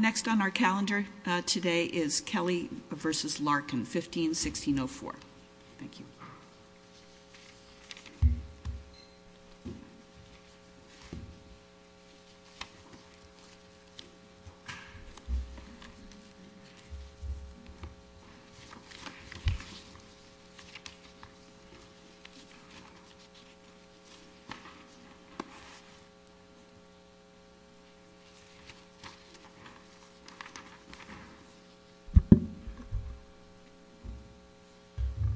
Next on our calendar today is Kelly v. Larkin, 15-1604.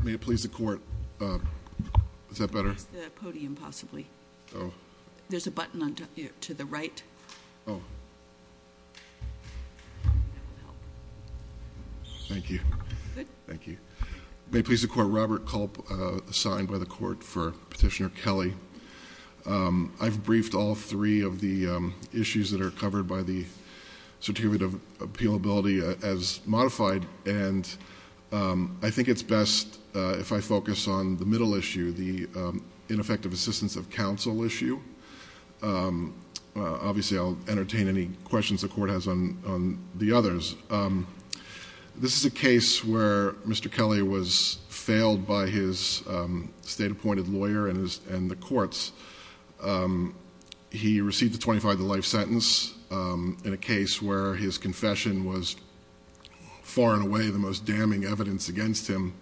May it please the Court, Robert Culp, assigned by the Court for Petitioner Kelly v. Larkin, I've briefed all three of the issues that are covered by the Certificate of Appealability as modified, and I think it's best if I focus on the middle issue, the ineffective assistance of counsel issue. Obviously, I'll entertain any questions the Court has on the others. This is a case where Mr. Kelly was failed by his state-appointed lawyer and the courts. He received the 25-to-life sentence in a case where his confession was far and away the most damning evidence against him,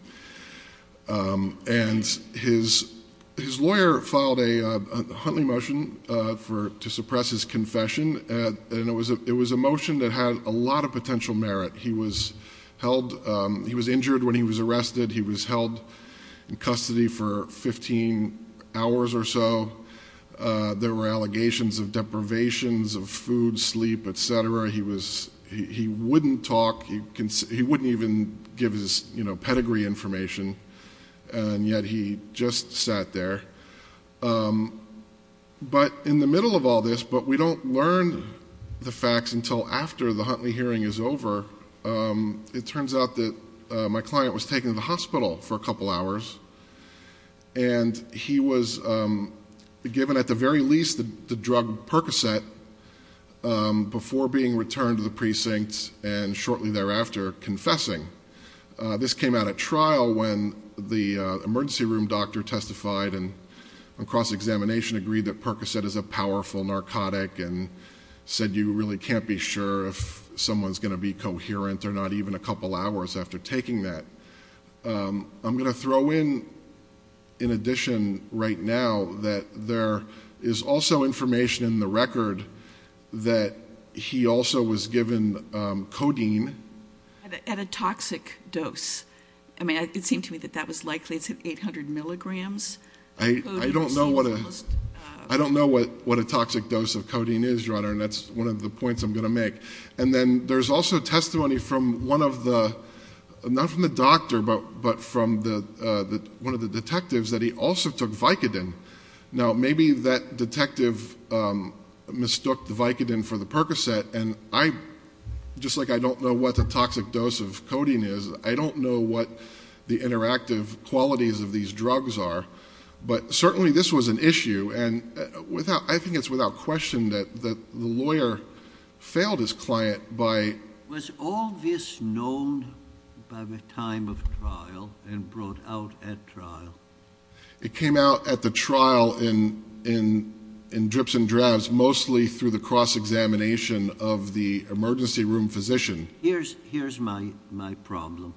and his lawyer filed a Huntley motion to suppress his confession, and it was a motion that had a lot of potential merit. He was injured when he was arrested. He was held in custody for 15 hours or so. There were allegations of deprivations of food, sleep, etc. He wouldn't talk. He wouldn't even give his pedigree information, and yet he just sat there. But in the middle of all this, but we don't learn the facts until after the Huntley hearing is over, it turns out that my client was taken to the hospital for a couple of hours, and he was given at the very least the drug Percocet before being returned to the precinct and shortly thereafter confessing. This came out at trial when the emergency room doctor testified and on cross-examination agreed that Percocet is a powerful narcotic and said you really can't be sure if someone's going to be coherent or not even a couple hours after taking that. I'm going to throw in, in addition right now, that there is also information in the record that he also was given codeine at a toxic dose. I mean, it seemed to me that that was likely 800 milligrams. I don't know what a toxic dose of codeine is, Your Honor, and that's one of the points I'm going to make. And then there's also testimony from one of the, not from the doctor, but from the one of the detectives that he also took Vicodin. Now, maybe that detective mistook the Vicodin for the Percocet, and I, just like I don't know what the toxic dose of codeine is, I don't know what the interactive qualities of these drugs are, but certainly this was an issue, and without, I think it's without question that the lawyer failed his client by... Trial and brought out at trial. It came out at the trial in drips and drabs, mostly through the cross-examination of the emergency room physician. Here's my problem.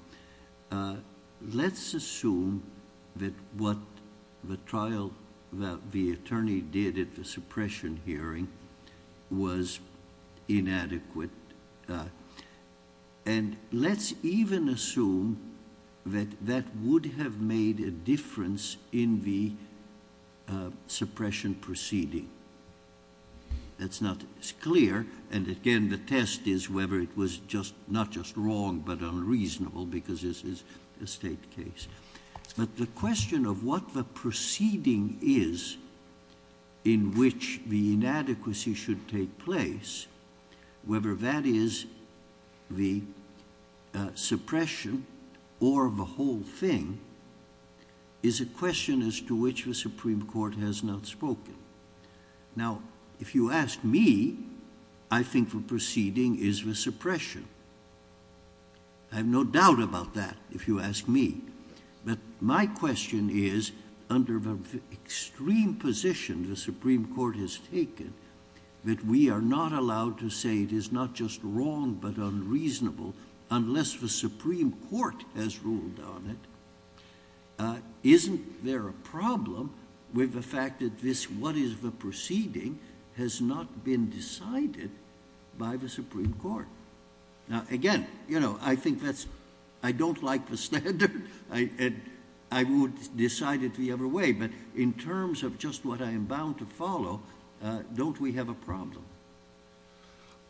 Let's assume that what the trial that the attorney did at the suppression hearing was inadequate, but, and let's even assume that that would have made a difference in the suppression proceeding. It's not, it's clear, and again, the test is whether it was just, not just wrong, but unreasonable, because this is a state case. But the question of what the proceeding is in which the inadequacy should take place, whether that is the suppression or the whole thing, is a question as to which the Supreme Court has not spoken. Now, if you ask me, I think the proceeding is the suppression. I have no doubt about that, if you ask me, but my question is, under the extreme position the that we are not allowed to say it is not just wrong, but unreasonable, unless the Supreme Court has ruled on it, isn't there a problem with the fact that this, what is the proceeding, has not been decided by the Supreme Court? Now, again, you know, I think that's, I don't like the standard. I would decide it the other way, but in terms of just what I am bound to follow, don't we have a problem?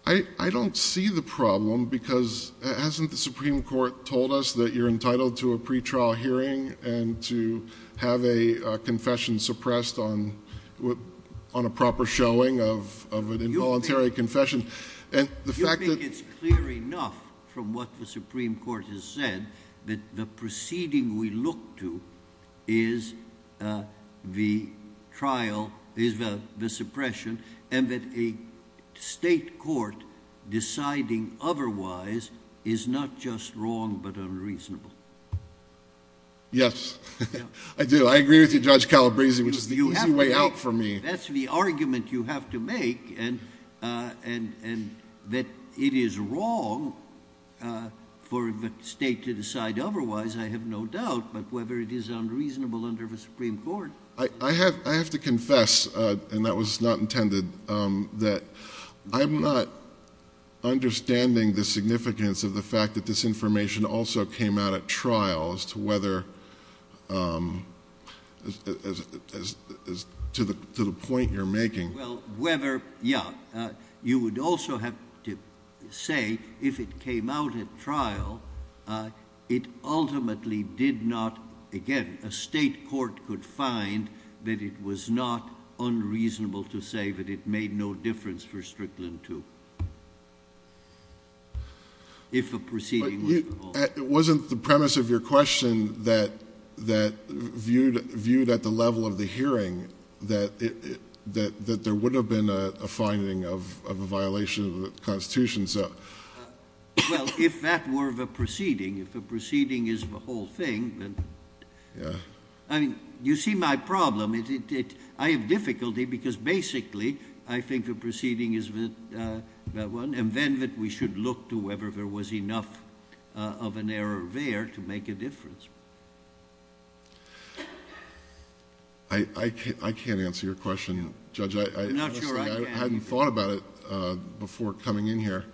I don't see the problem, because hasn't the Supreme Court told us that you're entitled to a pretrial hearing and to have a confession suppressed on a proper showing of an involuntary confession? You think it's clear enough from what the Supreme Court has said that the proceeding we look to is the trial, is the suppression, and that a state court deciding otherwise is not just wrong, but unreasonable? Yes, I do. I agree with you, Judge Calabresi, which is the easy way out for me. That's the argument you have to make, and that it is wrong for the state to decide otherwise, I have no doubt, but whether it is unreasonable under the Supreme Court. I have to confess, and that was not intended, that I'm not understanding the significance of the fact that this information also came out at trial as to the point you're making. You would also have to say if it came out at trial, it ultimately did not, again, a state court could find that it was not unreasonable to say that it made no difference for Strickland too, if a proceeding was at all. It wasn't the premise of your question that viewed at the level of the hearing, that there would have been a finding of a violation of the Constitution. Well, if that were the proceeding, if the proceeding is the whole thing, then you see my problem. I have difficulty because basically I think the proceeding is that one, and then that we should look to whether there was enough of an error there to make a difference. I can't answer your question, Judge. I'm not sure I can. I hadn't thought about it before coming in here.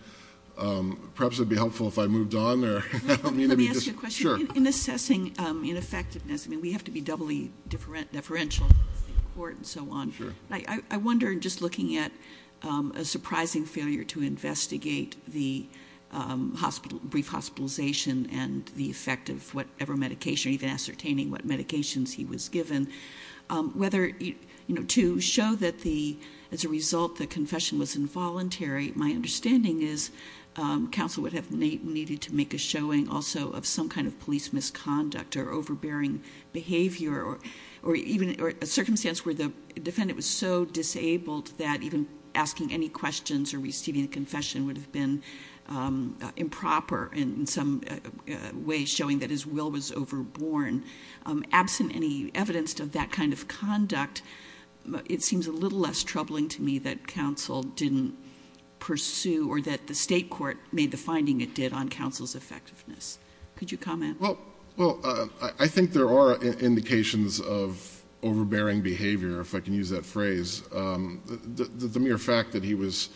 Perhaps it'd be helpful if I moved on. Let me ask you a question. In assessing ineffectiveness, I mean, we have to be doubly deferential in the court and so on. I wonder, just looking at a surprising failure to investigate the brief hospitalization and the effect of whatever medication, even ascertaining what medications he was given, whether to show that as a result the confession was involuntary, my understanding is counsel would have needed to make a showing also of some kind of police misconduct or overbearing behavior or even a circumstance where the defendant was so disabled that even asking any questions or receiving a confession would have been improper in some ways showing that his will was overborne. Absent any evidence of that kind of conduct, it seems a little less troubling to me that counsel didn't pursue or that the state court made the finding it did on Well, I think there are indications of overbearing behavior, if I can use that phrase. The mere fact that he was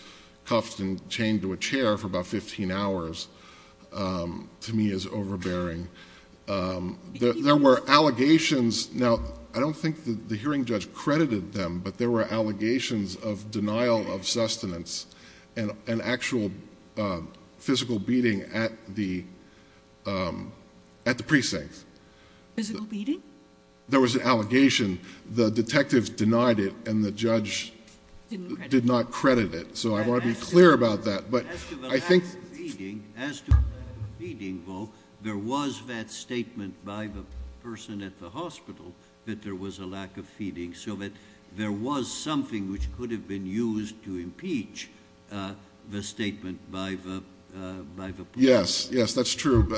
cuffed and chained to a chair for about 15 hours to me is overbearing. There were allegations. Now, I don't think the hearing judge credited them, but there were at the precinct. There was an allegation. The detective denied it, and the judge did not credit it. So I want to be clear about that. But I think there was that statement by the person at the hospital that there was a lack of feeding, so that there was something which could have been used to impeach the statement by the Yes, yes, that's true.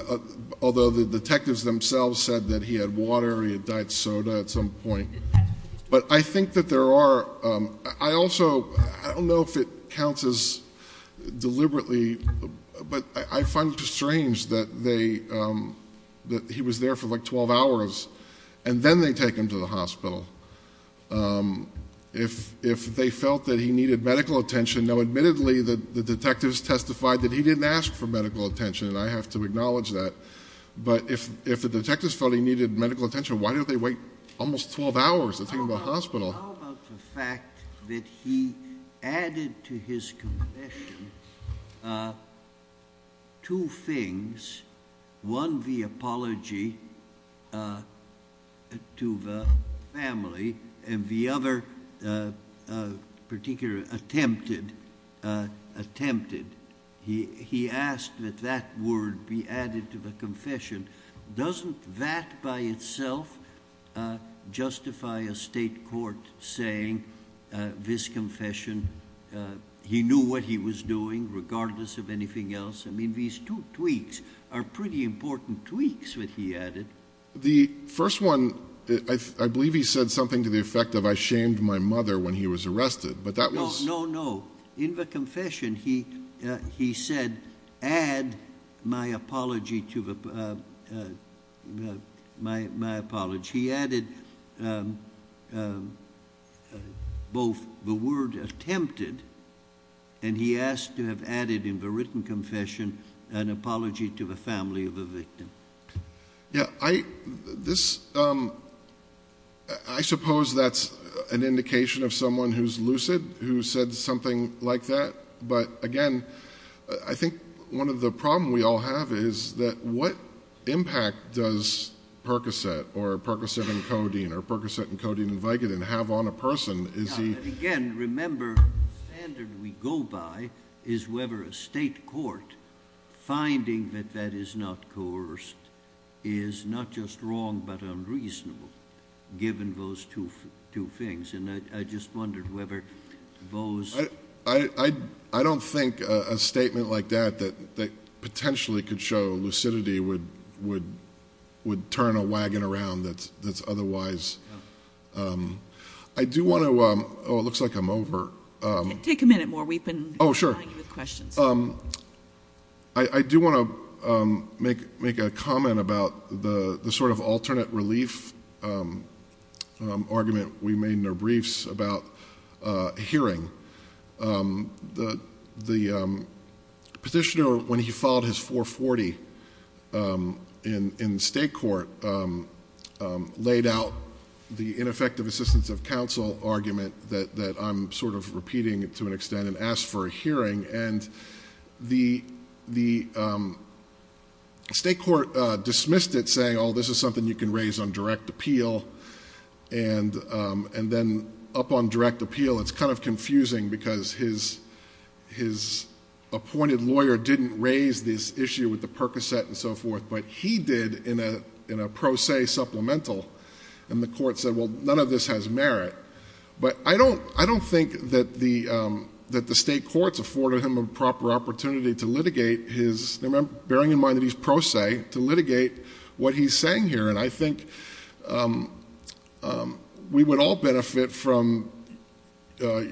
Although the detectives themselves said that he had water, he had diet soda at some point. But I think that there are, I also, I don't know if it counts as deliberately, but I find it strange that they, that he was there for like 12 hours, and then they take him to the hospital. If they felt that he needed medical attention, admittedly, the detectives testified that he didn't ask for medical attention, and I have to acknowledge that. But if the detectives felt he needed medical attention, why don't they wait almost 12 hours to take him to the hospital? How about the fact that he added to his confession two things? One, the apology to the family, and the other particular attempted, attempted, he asked that that word be added to the confession. Doesn't that by itself justify a state court saying this confession, he knew what he was doing, regardless of anything else? I mean, these two tweaks are pretty important tweaks that he added. The first one, I believe he said something to the effect of, I shamed my mother when he was arrested, but that no, in the confession, he, he said, add my apology to the, my, my apology. He added both the word attempted, and he asked to have added in the written confession, an apology to the family of the victim. Yeah, I, this, I suppose that's an indication of someone who's lucid, who said something like that. But again, I think one of the problems we all have is that what impact does Percocet, or Percocet and Codeine, or Percocet and Codeine and Vicodin have on a person? Is he? Again, remember, the standard we go by is whether a state court finding that that is not coerced is not just wrong, but unreasonable, given those two, two things. And I, I just wondered whether those, I, I, I don't think a statement like that, that, that potentially could show lucidity would, would, would turn a wagon around that's, that's otherwise, I do want to, oh, it looks like I'm over. Take a minute more. We've been, oh, sure. I do want to make, make a comment about the, the sort of alternate relief argument we made in our briefs about hearing. The, the petitioner, when he filed his 440 in, in state court, laid out the ineffective assistance of counsel argument that, that I'm sort of repeating to an extent, and asked for a hearing. And the, the state court dismissed it saying, oh, this is something you can raise on direct appeal. And, and then up on direct appeal, it's kind of confusing because his, his appointed lawyer didn't raise this issue with the Percocet and so forth, but he did in a, in a pro se supplemental. And the court said, well, none of this has merit. But I don't, I don't think that the, that the state courts afforded him a what he's saying here. And I think we would all benefit from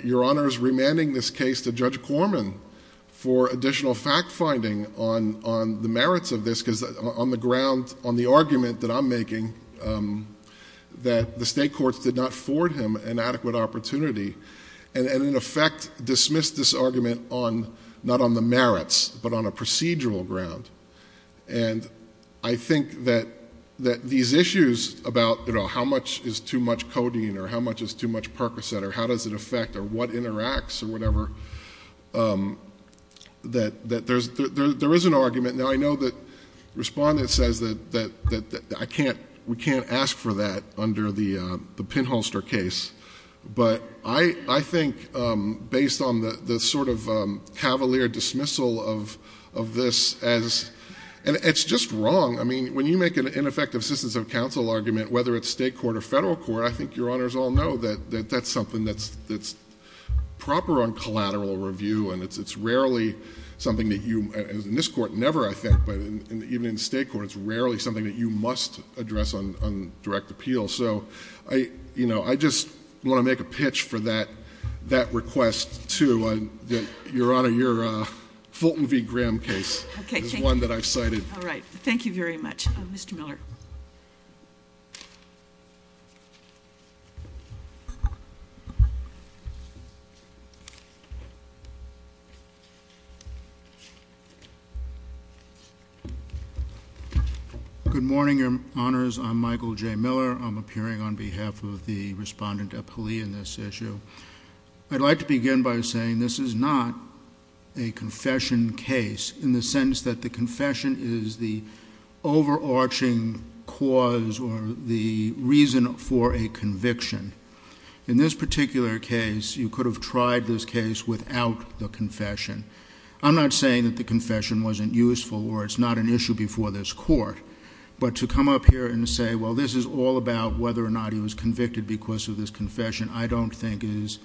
your honors remanding this case to Judge Corman for additional fact finding on, on the merits of this, because on the ground, on the argument that I'm making, that the state courts did not afford him an adequate opportunity and in effect dismissed this argument on, not on the merits, but on a procedural ground. And I think that, that these issues about, you know, how much is too much codeine or how much is too much Percocet or how does it affect or what interacts or whatever, that, that there's, there is an argument. Now I know that respondent says that, that, that I can't, we can't ask for that under the, the pinholster case. But I, I think based on the, the sort of cavalier dismissal of, of this as, and it's just wrong. I mean, when you make an ineffective assistance of counsel argument, whether it's state court or federal court, I think your honors all know that, that that's something that's, that's proper on collateral review. And it's, it's rarely something that you, in this court never, I think, but even in state court, it's rarely something that you must address on, on direct appeal. So I, you know, I just want to make a pitch for that, that request to your honor, your Fulton v. Graham case. Okay. One that I've cited. All right. Thank you very much. Mr. Miller. Good morning, your honors. I'm Michael J. Miller. I'm appearing on behalf of the respondent in this issue. I'd like to begin by saying this is not a confession case in the sense that the confession is the overarching cause or the reason for a conviction. In this particular case, you could have tried this case without the confession. I'm not saying that the confession wasn't useful, or it's not an issue before this court, but to come up here and say, well, this is all about whether or not he was convicted because of this confession, I don't think is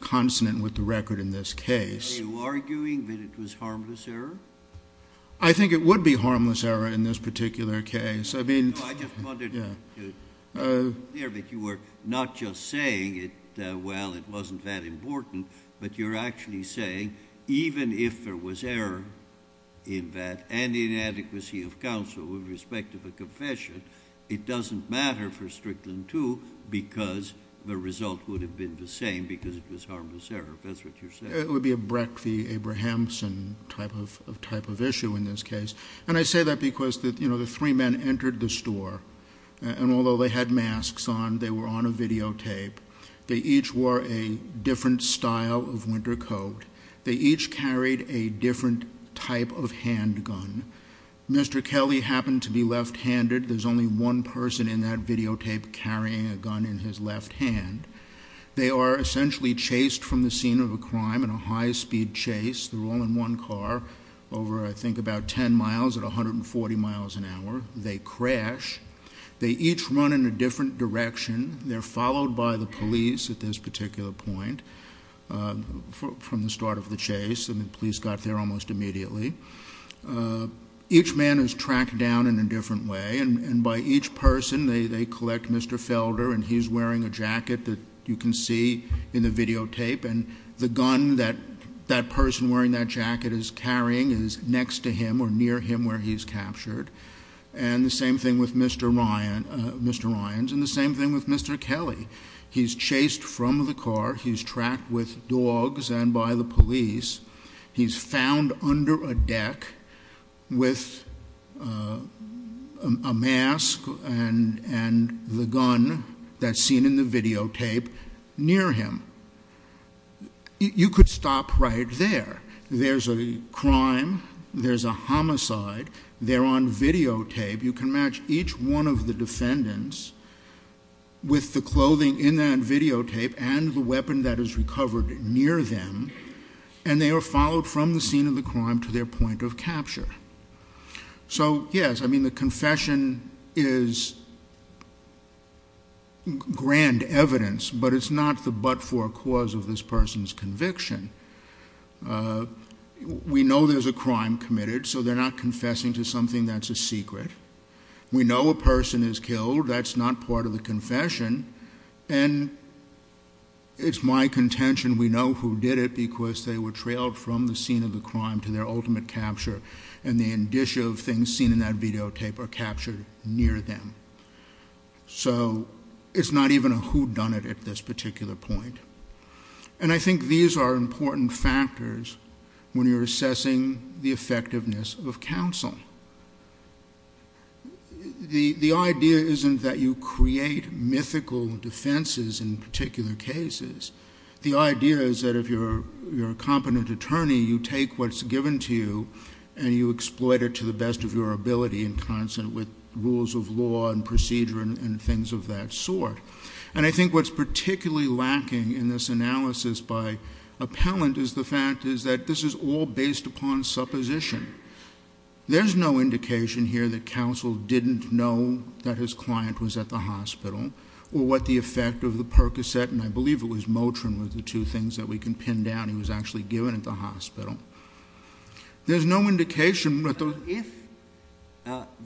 consonant with the record in this case. Are you arguing that it was harmless error? I think it would be harmless error in this particular case. I mean, I just wondered if you were not just saying it, well, it wasn't that important, but you're actually saying, even if there was error in that and inadequacy of counsel with respect to the confession, it doesn't matter for Strickland too, because the result would have been the same because it was harmless error. If that's what you're saying. It would be a Brecht v. Abrahamson type of issue in this case. And I say that because the three men entered the store, and although they had masks on, they were on a videotape. They each wore a different style of winter coat. They each carried a different type of handgun. Mr. Kelly happened to be left-handed. There's only one person in that videotape carrying a gun in his left hand. They are essentially chased from the scene of a crime in a high-speed chase. They're all in one car over, I think, about 10 miles at 140 miles an hour. They crash. They each run in a different direction. They're followed by the police at this particular point from the start of the chase, and the police got there almost immediately. Each man is tracked down in a different way, and by each person they collect Mr. Felder, and he's wearing a jacket that you can see in the videotape, and the gun that that person wearing that jacket is carrying is next to him or near him where he's captured. And the same thing with Mr. Ryans and the same thing with Mr. Kelly. He's chased from the car. He's tracked with dogs and by the police. He's found under a deck with a mask and the gun that's seen in the videotape near him. You could stop right there. There's a crime. There's a crime. And each one of the defendants with the clothing in that videotape and the weapon that is recovered near them, and they are followed from the scene of the crime to their point of capture. So yes, I mean, the confession is grand evidence, but it's not the but-for cause of this person's conviction. We know there's a crime committed, so they're not confessing to something that's a secret. We know a person is killed. That's not part of the confession, and it's my contention we know who did it because they were trailed from the scene of the crime to their ultimate capture, and the indicia of things seen in that videotape are captured near them. So it's not even a whodunit at this particular point. And I think these are important factors when you're assessing the effectiveness of counsel. The idea isn't that you create mythical defenses in particular cases. The idea is that if you're a competent attorney, you take what's given to you, and you exploit it to the best of your ability in constant with rules of law and procedure and things of that sort. And I think what's particularly lacking in this analysis by this is all based upon supposition. There's no indication here that counsel didn't know that his client was at the hospital or what the effect of the Percocet, and I believe it was Motrin were the two things that we can pin down, he was actually given at the hospital. There's no indication that the... If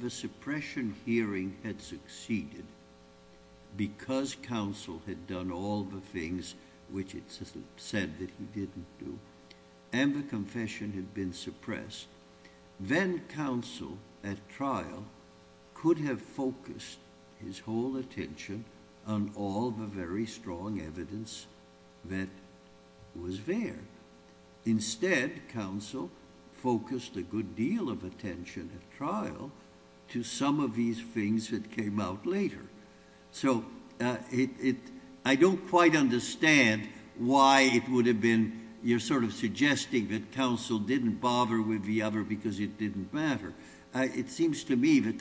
the suppression hearing had succeeded because counsel had done all the things which it said that he didn't do, and the confession had been suppressed, then counsel at trial could have focused his whole attention on all the very strong evidence that was there. Instead, counsel focused a good deal of attention at trial to some of these things that came out later. So, I don't quite understand why it would have been... You're sort of suggesting that counsel didn't bother with the other because it didn't matter. It seems to me that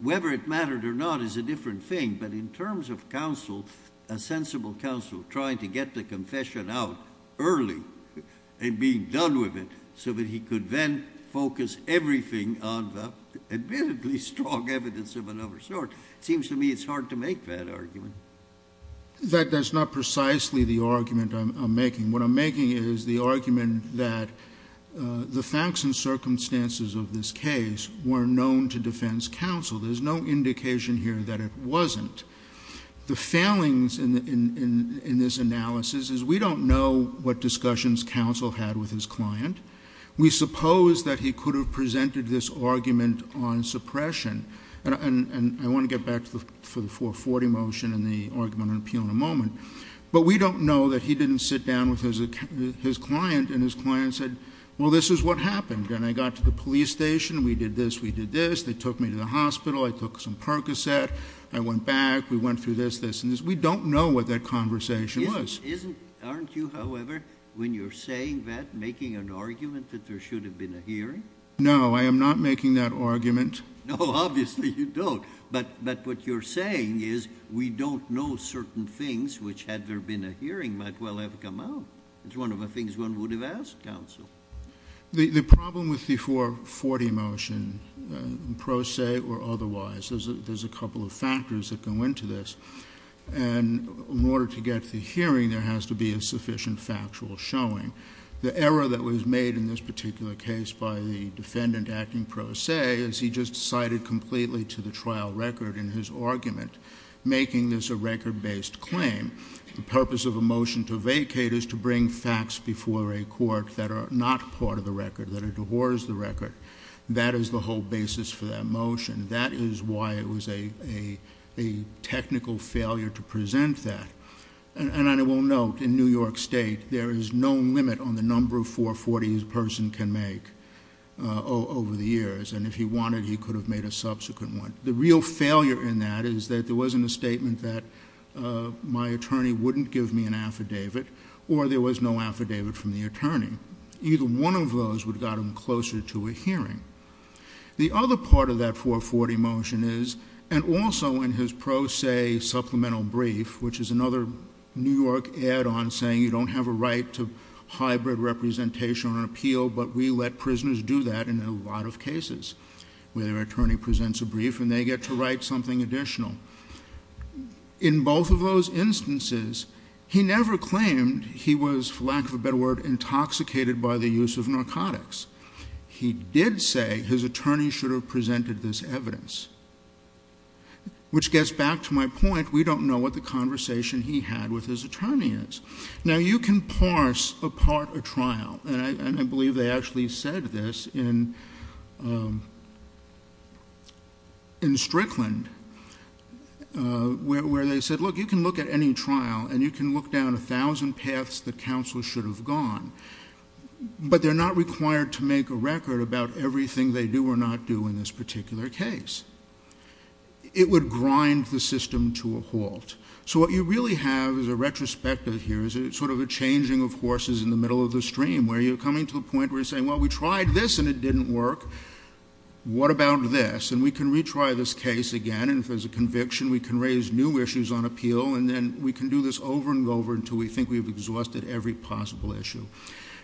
whether it mattered or not is a different thing, but in terms of counsel, a sensible counsel trying to get the confession out early and being done with it so that he could then focus everything on the admittedly strong evidence of another sort. It seems to me it's hard to make that argument. That's not precisely the argument I'm making. What I'm making is the argument that the facts and circumstances of this case were known to defense counsel. There's no indication here that it wasn't. The failings in this analysis is we don't know what discussions counsel had with his client. We suppose that he could have presented this argument on suppression, and I want to get back to the 440 motion and the argument on appeal in a moment, but we don't know that he didn't sit down with his client and his client said, well, this is what happened, and I got to the police station. We did this. We did this. They took me to the hospital. I took some Percocet. I went back. We went through this, this, and this. We don't know what that conversation was. Isn't, aren't you, however, when you're saying that making an argument that there should have been a hearing? No, I am not making that argument. No, obviously you don't, but what you're saying is we don't know certain things which had there been a hearing might well have come out. It's one of the things one would have asked counsel. The problem with the 440 motion, pro se or otherwise, there's a couple of factors that go into this, and in order to get the hearing, there has to be a sufficient factual showing. The error that was made in this particular case by the defendant acting pro se is he just cited completely to the trial record in his argument, making this a record-based claim. The purpose of a motion to vacate is to bring facts before a court that are not part of the record, that are towards the record. That is the whole basis for that motion. That is why it was a technical failure to present that, and I will note in New York State, there is no limit on the number of 440s a person can make over the years, and if he wanted, he could have made a subsequent one. The real failure in that is that there wasn't a statement that my attorney wouldn't give me an affidavit or there was no affidavit from the attorney. Either one of those would have got him closer to a hearing. The other part of that 440 motion is, and also in his pro se supplemental brief, which is another New York add-on saying you don't have a right to hybrid representation on an appeal, but we let prisoners do that in a lot of cases, where their attorney presents a brief and they get to write something additional. In both of those instances, he never claimed he was, for lack of a better word, intoxicated by the use of narcotics. He did say his attorney should have presented this evidence, which gets back to my point, we don't know what the conversation he had with his attorney is. Now, you can parse apart a trial, and I believe they actually said this in Strickland, where they said, look, you can look at any trial and you can look down a case. But they're not required to make a record about everything they do or not do in this particular case. It would grind the system to a halt. So what you really have is a retrospective here, sort of a changing of horses in the middle of the stream, where you're coming to the point where you're saying, well, we tried this and it didn't work. What about this? And we can retry this case again, and if there's a conviction, we can raise new issues on appeal, and then we can this over and over until we think we've exhausted every possible issue.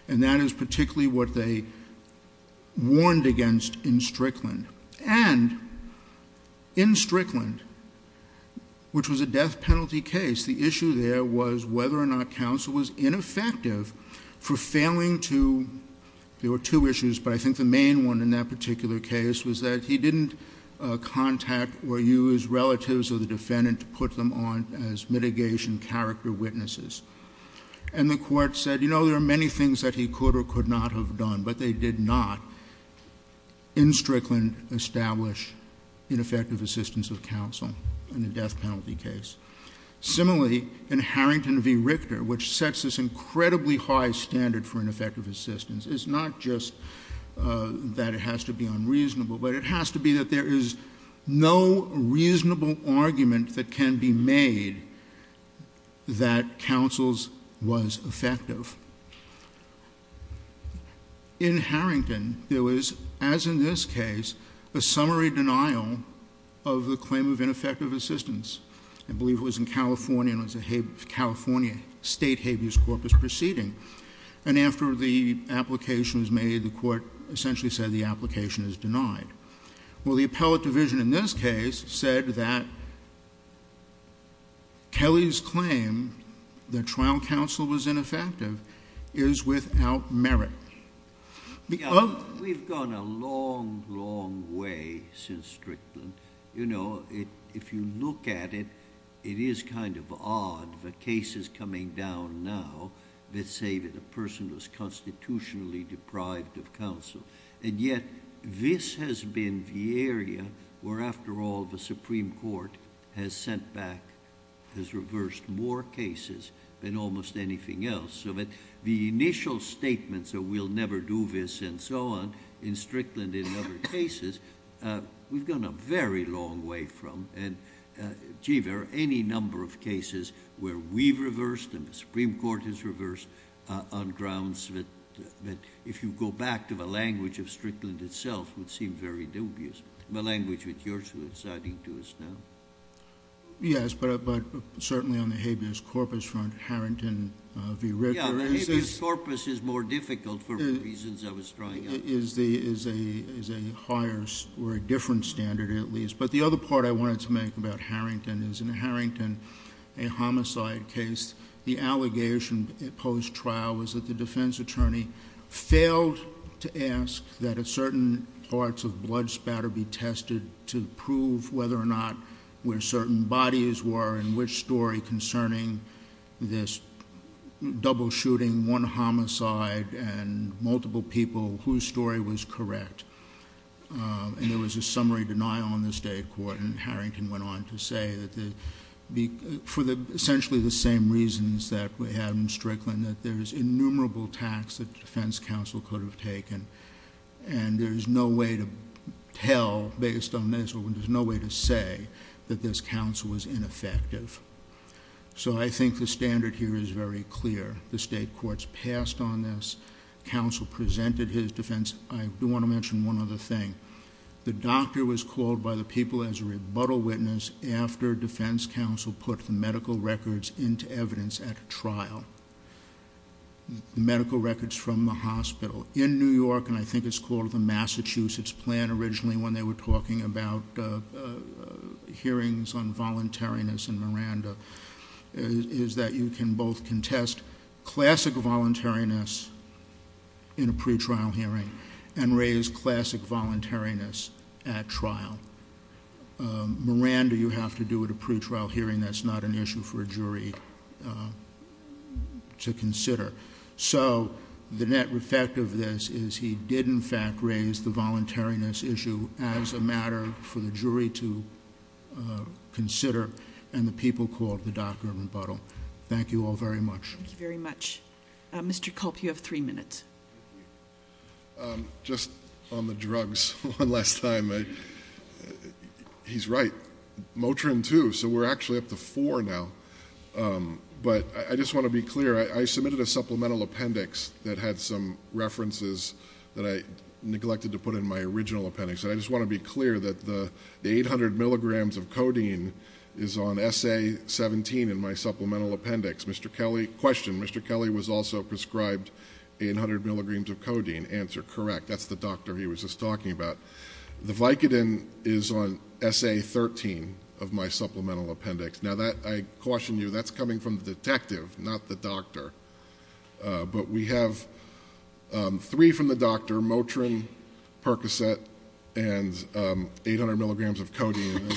And that is particularly what they warned against in Strickland. And in Strickland, which was a death penalty case, the issue there was whether or not counsel was ineffective for failing to, there were two issues, but I think the main one in that particular case was that he didn't contact or use relatives of mitigation character witnesses. And the Court said, you know, there are many things that he could or could not have done, but they did not in Strickland establish ineffective assistance of counsel in a death penalty case. Similarly, in Harrington v. Richter, which sets this incredibly high standard for ineffective assistance, it's not just that it has to be unreasonable, but it that counsel's was effective. In Harrington, there was, as in this case, a summary denial of the claim of ineffective assistance. I believe it was in California, and it was a California State Habeas Corpus proceeding. And after the application was made, the Court essentially said the application is denied. Well, the appellate division in this case said that Kelly's claim that trial counsel was ineffective is without merit. We've gone a long, long way since Strickland. You know, if you look at it, it is kind of odd, the cases coming down now that say that a person was constitutionally deprived of counsel. And yet, this has been the area where, after all, the Supreme Court has sent back, has reversed more cases than almost anything else, so that the initial statements of we'll never do this and so on in Strickland and in other cases, we've gone a very long way from. And, gee, there are any number of cases where we've reversed and the Supreme Court has reversed on grounds that, if you go back to the language of Strickland itself, would seem very dubious. The language that you're citing to us now. Yes, but certainly on the Habeas Corpus front, Harrington v. Ritter. Yeah, the Habeas Corpus is more difficult for the reasons I was drawing up. Is a higher or a different standard, at least. But the other part I wanted to make about Harrington is in Harrington, a homicide case, the allegation at post-trial was that the defense attorney failed to ask that a certain parts of blood spatter be tested to prove whether or not where certain bodies were and which story concerning this double shooting, one homicide and multiple people whose story was correct. And there was a summary denial on this day of court and Harrington went on to say that for essentially the same reasons that we had in Strickland, that there's innumerable tax that the defense counsel could have taken and there's no way to tell based on this or there's no way to say that this counsel was ineffective. So I think the standard here is very clear. The state courts passed on this. Counsel presented his defense. I do want to mention one other thing. The doctor was called by the people as a rebuttal witness after defense counsel put the medical records into evidence at trial. Medical records from the hospital in New York and I think it's called the Massachusetts plan originally when they were talking about hearings on voluntariness and Miranda, is that you can both contest classic voluntariness in a pretrial hearing and raise classic voluntariness at trial. Miranda, you have to do at a pretrial hearing, that's not an issue for a jury to consider. So the net effect of this is he did in fact raise the voluntariness issue as a matter for the jury to consider and the people called the doctor rebuttal. Thank you all very much. Thank you very much. Mr. Culp, you have three minutes. Just on the drugs one last time. He's right. Motrin too. So we're actually up to four now. But I just want to be clear. I submitted a supplemental appendix that had some references that I neglected to put in my original appendix. I just want to be clear that the 800 milligrams of codeine is on SA-17 in my supplemental appendix. Mr. Kelly, question, Mr. Kelly was also prescribed 800 milligrams of codeine. Answer, correct. That's the doctor he was just talking about. The Vicodin is on SA-13 of my supplemental appendix. Now that I caution you, that's coming from the detective, not the doctor. But we have three from the doctor, Motrin, Percocet, and 800 milligrams of codeine.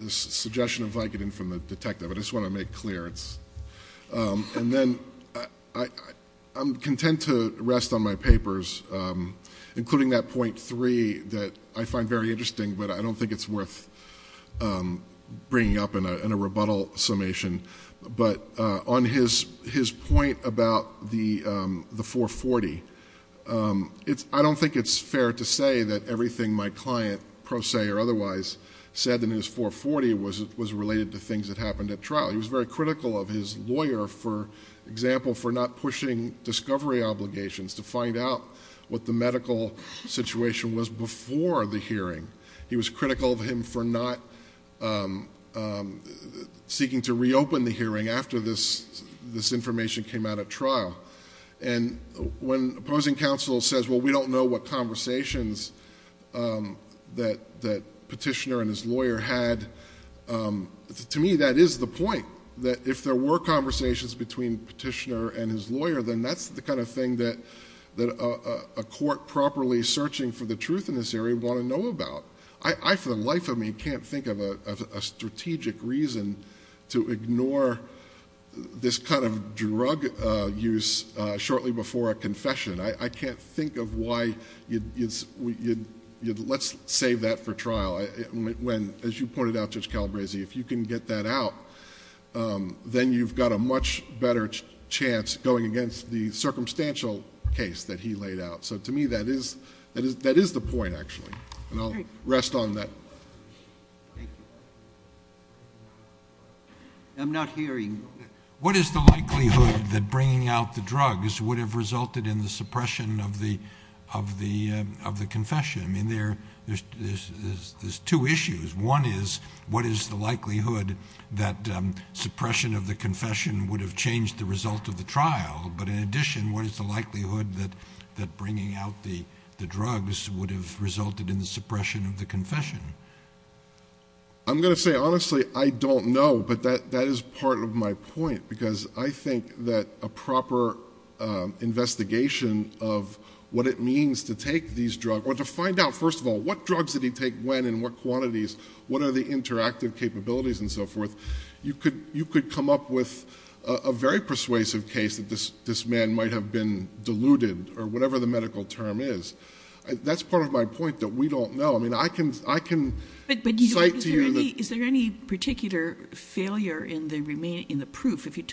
This suggestion of Vicodin from the detective. I just I'm content to rest on my papers, including that point three that I find very interesting, but I don't think it's worth bringing up in a rebuttal summation. But on his point about the 440, I don't think it's fair to say that everything my client, pro se or otherwise, said in his 440 was related to things that happened at trial. He was very critical of his discovery obligations to find out what the medical situation was before the hearing. He was critical of him for not seeking to reopen the hearing after this information came out at trial. And when opposing counsel says, well, we don't know what conversations that petitioner and his lawyer had, to me, that is the point. That if there were conversations between petitioner and his lawyer, then that's the kind of thing that a court properly searching for the truth in this area would want to know about. I, for the life of me, can't think of a strategic reason to ignore this kind of drug use shortly before a confession. I can't think of why let's save that for trial. As you pointed out, Judge Calabresi, if you can get that out, um, then you've got a much better chance going against the circumstantial case that he laid out. So to me, that is, that is, that is the point actually. And I'll rest on that. I'm not hearing. What is the likelihood that bringing out the drugs would have resulted in the suppression of the, of the, um, of the confession? I mean, there, there's, there's, there's two issues. One is what is the likelihood that, um, suppression of the confession would have changed the result of the trial. But in addition, what is the likelihood that, that bringing out the drugs would have resulted in the suppression of the confession? I'm going to say, honestly, I don't know, but that, that is part of my point, because I think that a proper, um, investigation of what it means to take these drugs or to find out, first of all, what drugs did he take when and what quantities, what are the interactive capabilities and so forth? You could, you could come up with a very persuasive case that this, this man might have been diluted or whatever the medical term is. That's part of my point that we don't know. I mean, I can, I can cite to you. Is there any particular failure in the remaining, in the proof? If you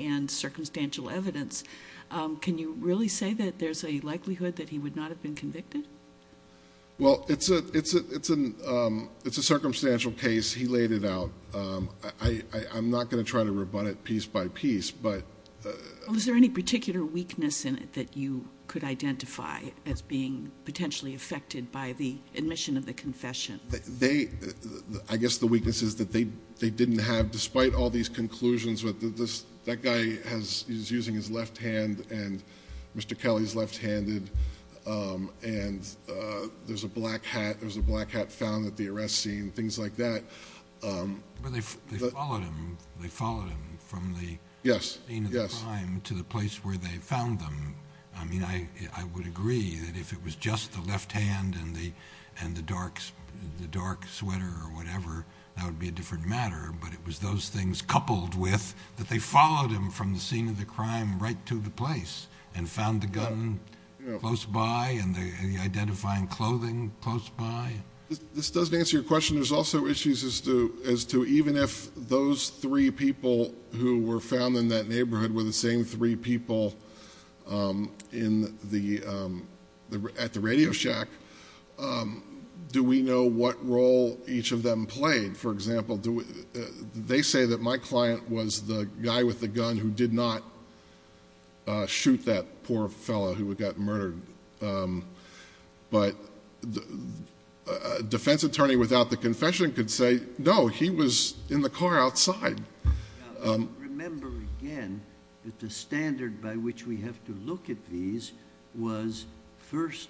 and circumstantial evidence, um, can you really say that there's a likelihood that he would not have been convicted? Well, it's a, it's a, it's an, um, it's a circumstantial case. He laid it out. Um, I, I, I'm not going to try to rebut it piece by piece, but, uh, is there any particular weakness in it that you could identify as being potentially affected by the admission of the confession? They, I guess the weaknesses that they, they didn't have, despite all these conclusions with this, that guy has, he's using his left hand and Mr. Kelly's left-handed. Um, and, uh, there's a black hat, there was a black hat found at the arrest scene, things like that. Um, they followed him from the scene of the crime to the place where they found them. I mean, I, I would agree that if it was just the left hand and the, and the dark, the dark sweater or whatever, that would be a different matter, but it was those things coupled with that they followed him from the scene of the crime, right to the place and found the gun close by and the identifying clothing close by. This doesn't answer your question. There's also issues as to, as to even if those three people who were found in that neighborhood were the same three people, um, in the, um, the, at the radio shack, um, do we know what role each of them played? For example, do they say that my client was the guy with the gun who did not, uh, shoot that poor fellow who got murdered? Um, but the defense attorney without the confession could say, no, he was in the car was first,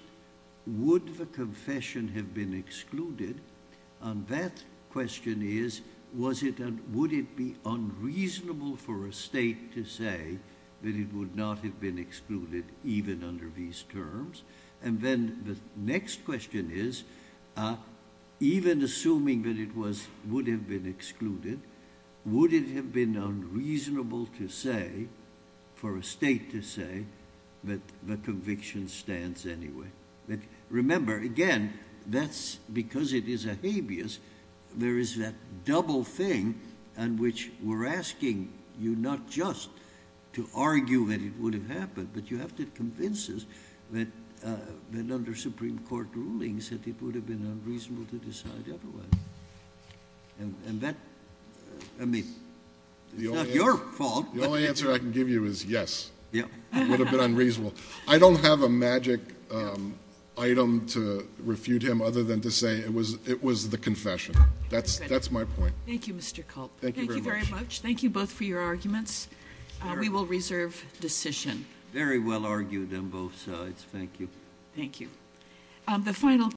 would the confession have been excluded? And that question is, was it, would it be unreasonable for a state to say that it would not have been excluded even under these terms? And then the next question is, uh, even assuming that it was, would have been excluded, would it have been unreasonable to say for a state to say that the conviction stands anyway? But remember again, that's because it is a habeas. There is that double thing on which we're asking you not just to argue that it would have happened, but you have to convince us that, uh, that under court rulings that it would have been unreasonable to decide otherwise. And that, I mean, it's not your fault. The only answer I can give you is yes. It would have been unreasonable. I don't have a magic, um, item to refute him other than to say it was, it was the confession. That's, that's my point. Thank you, Mr. Culp. Thank you very much. Thank you both for your the final.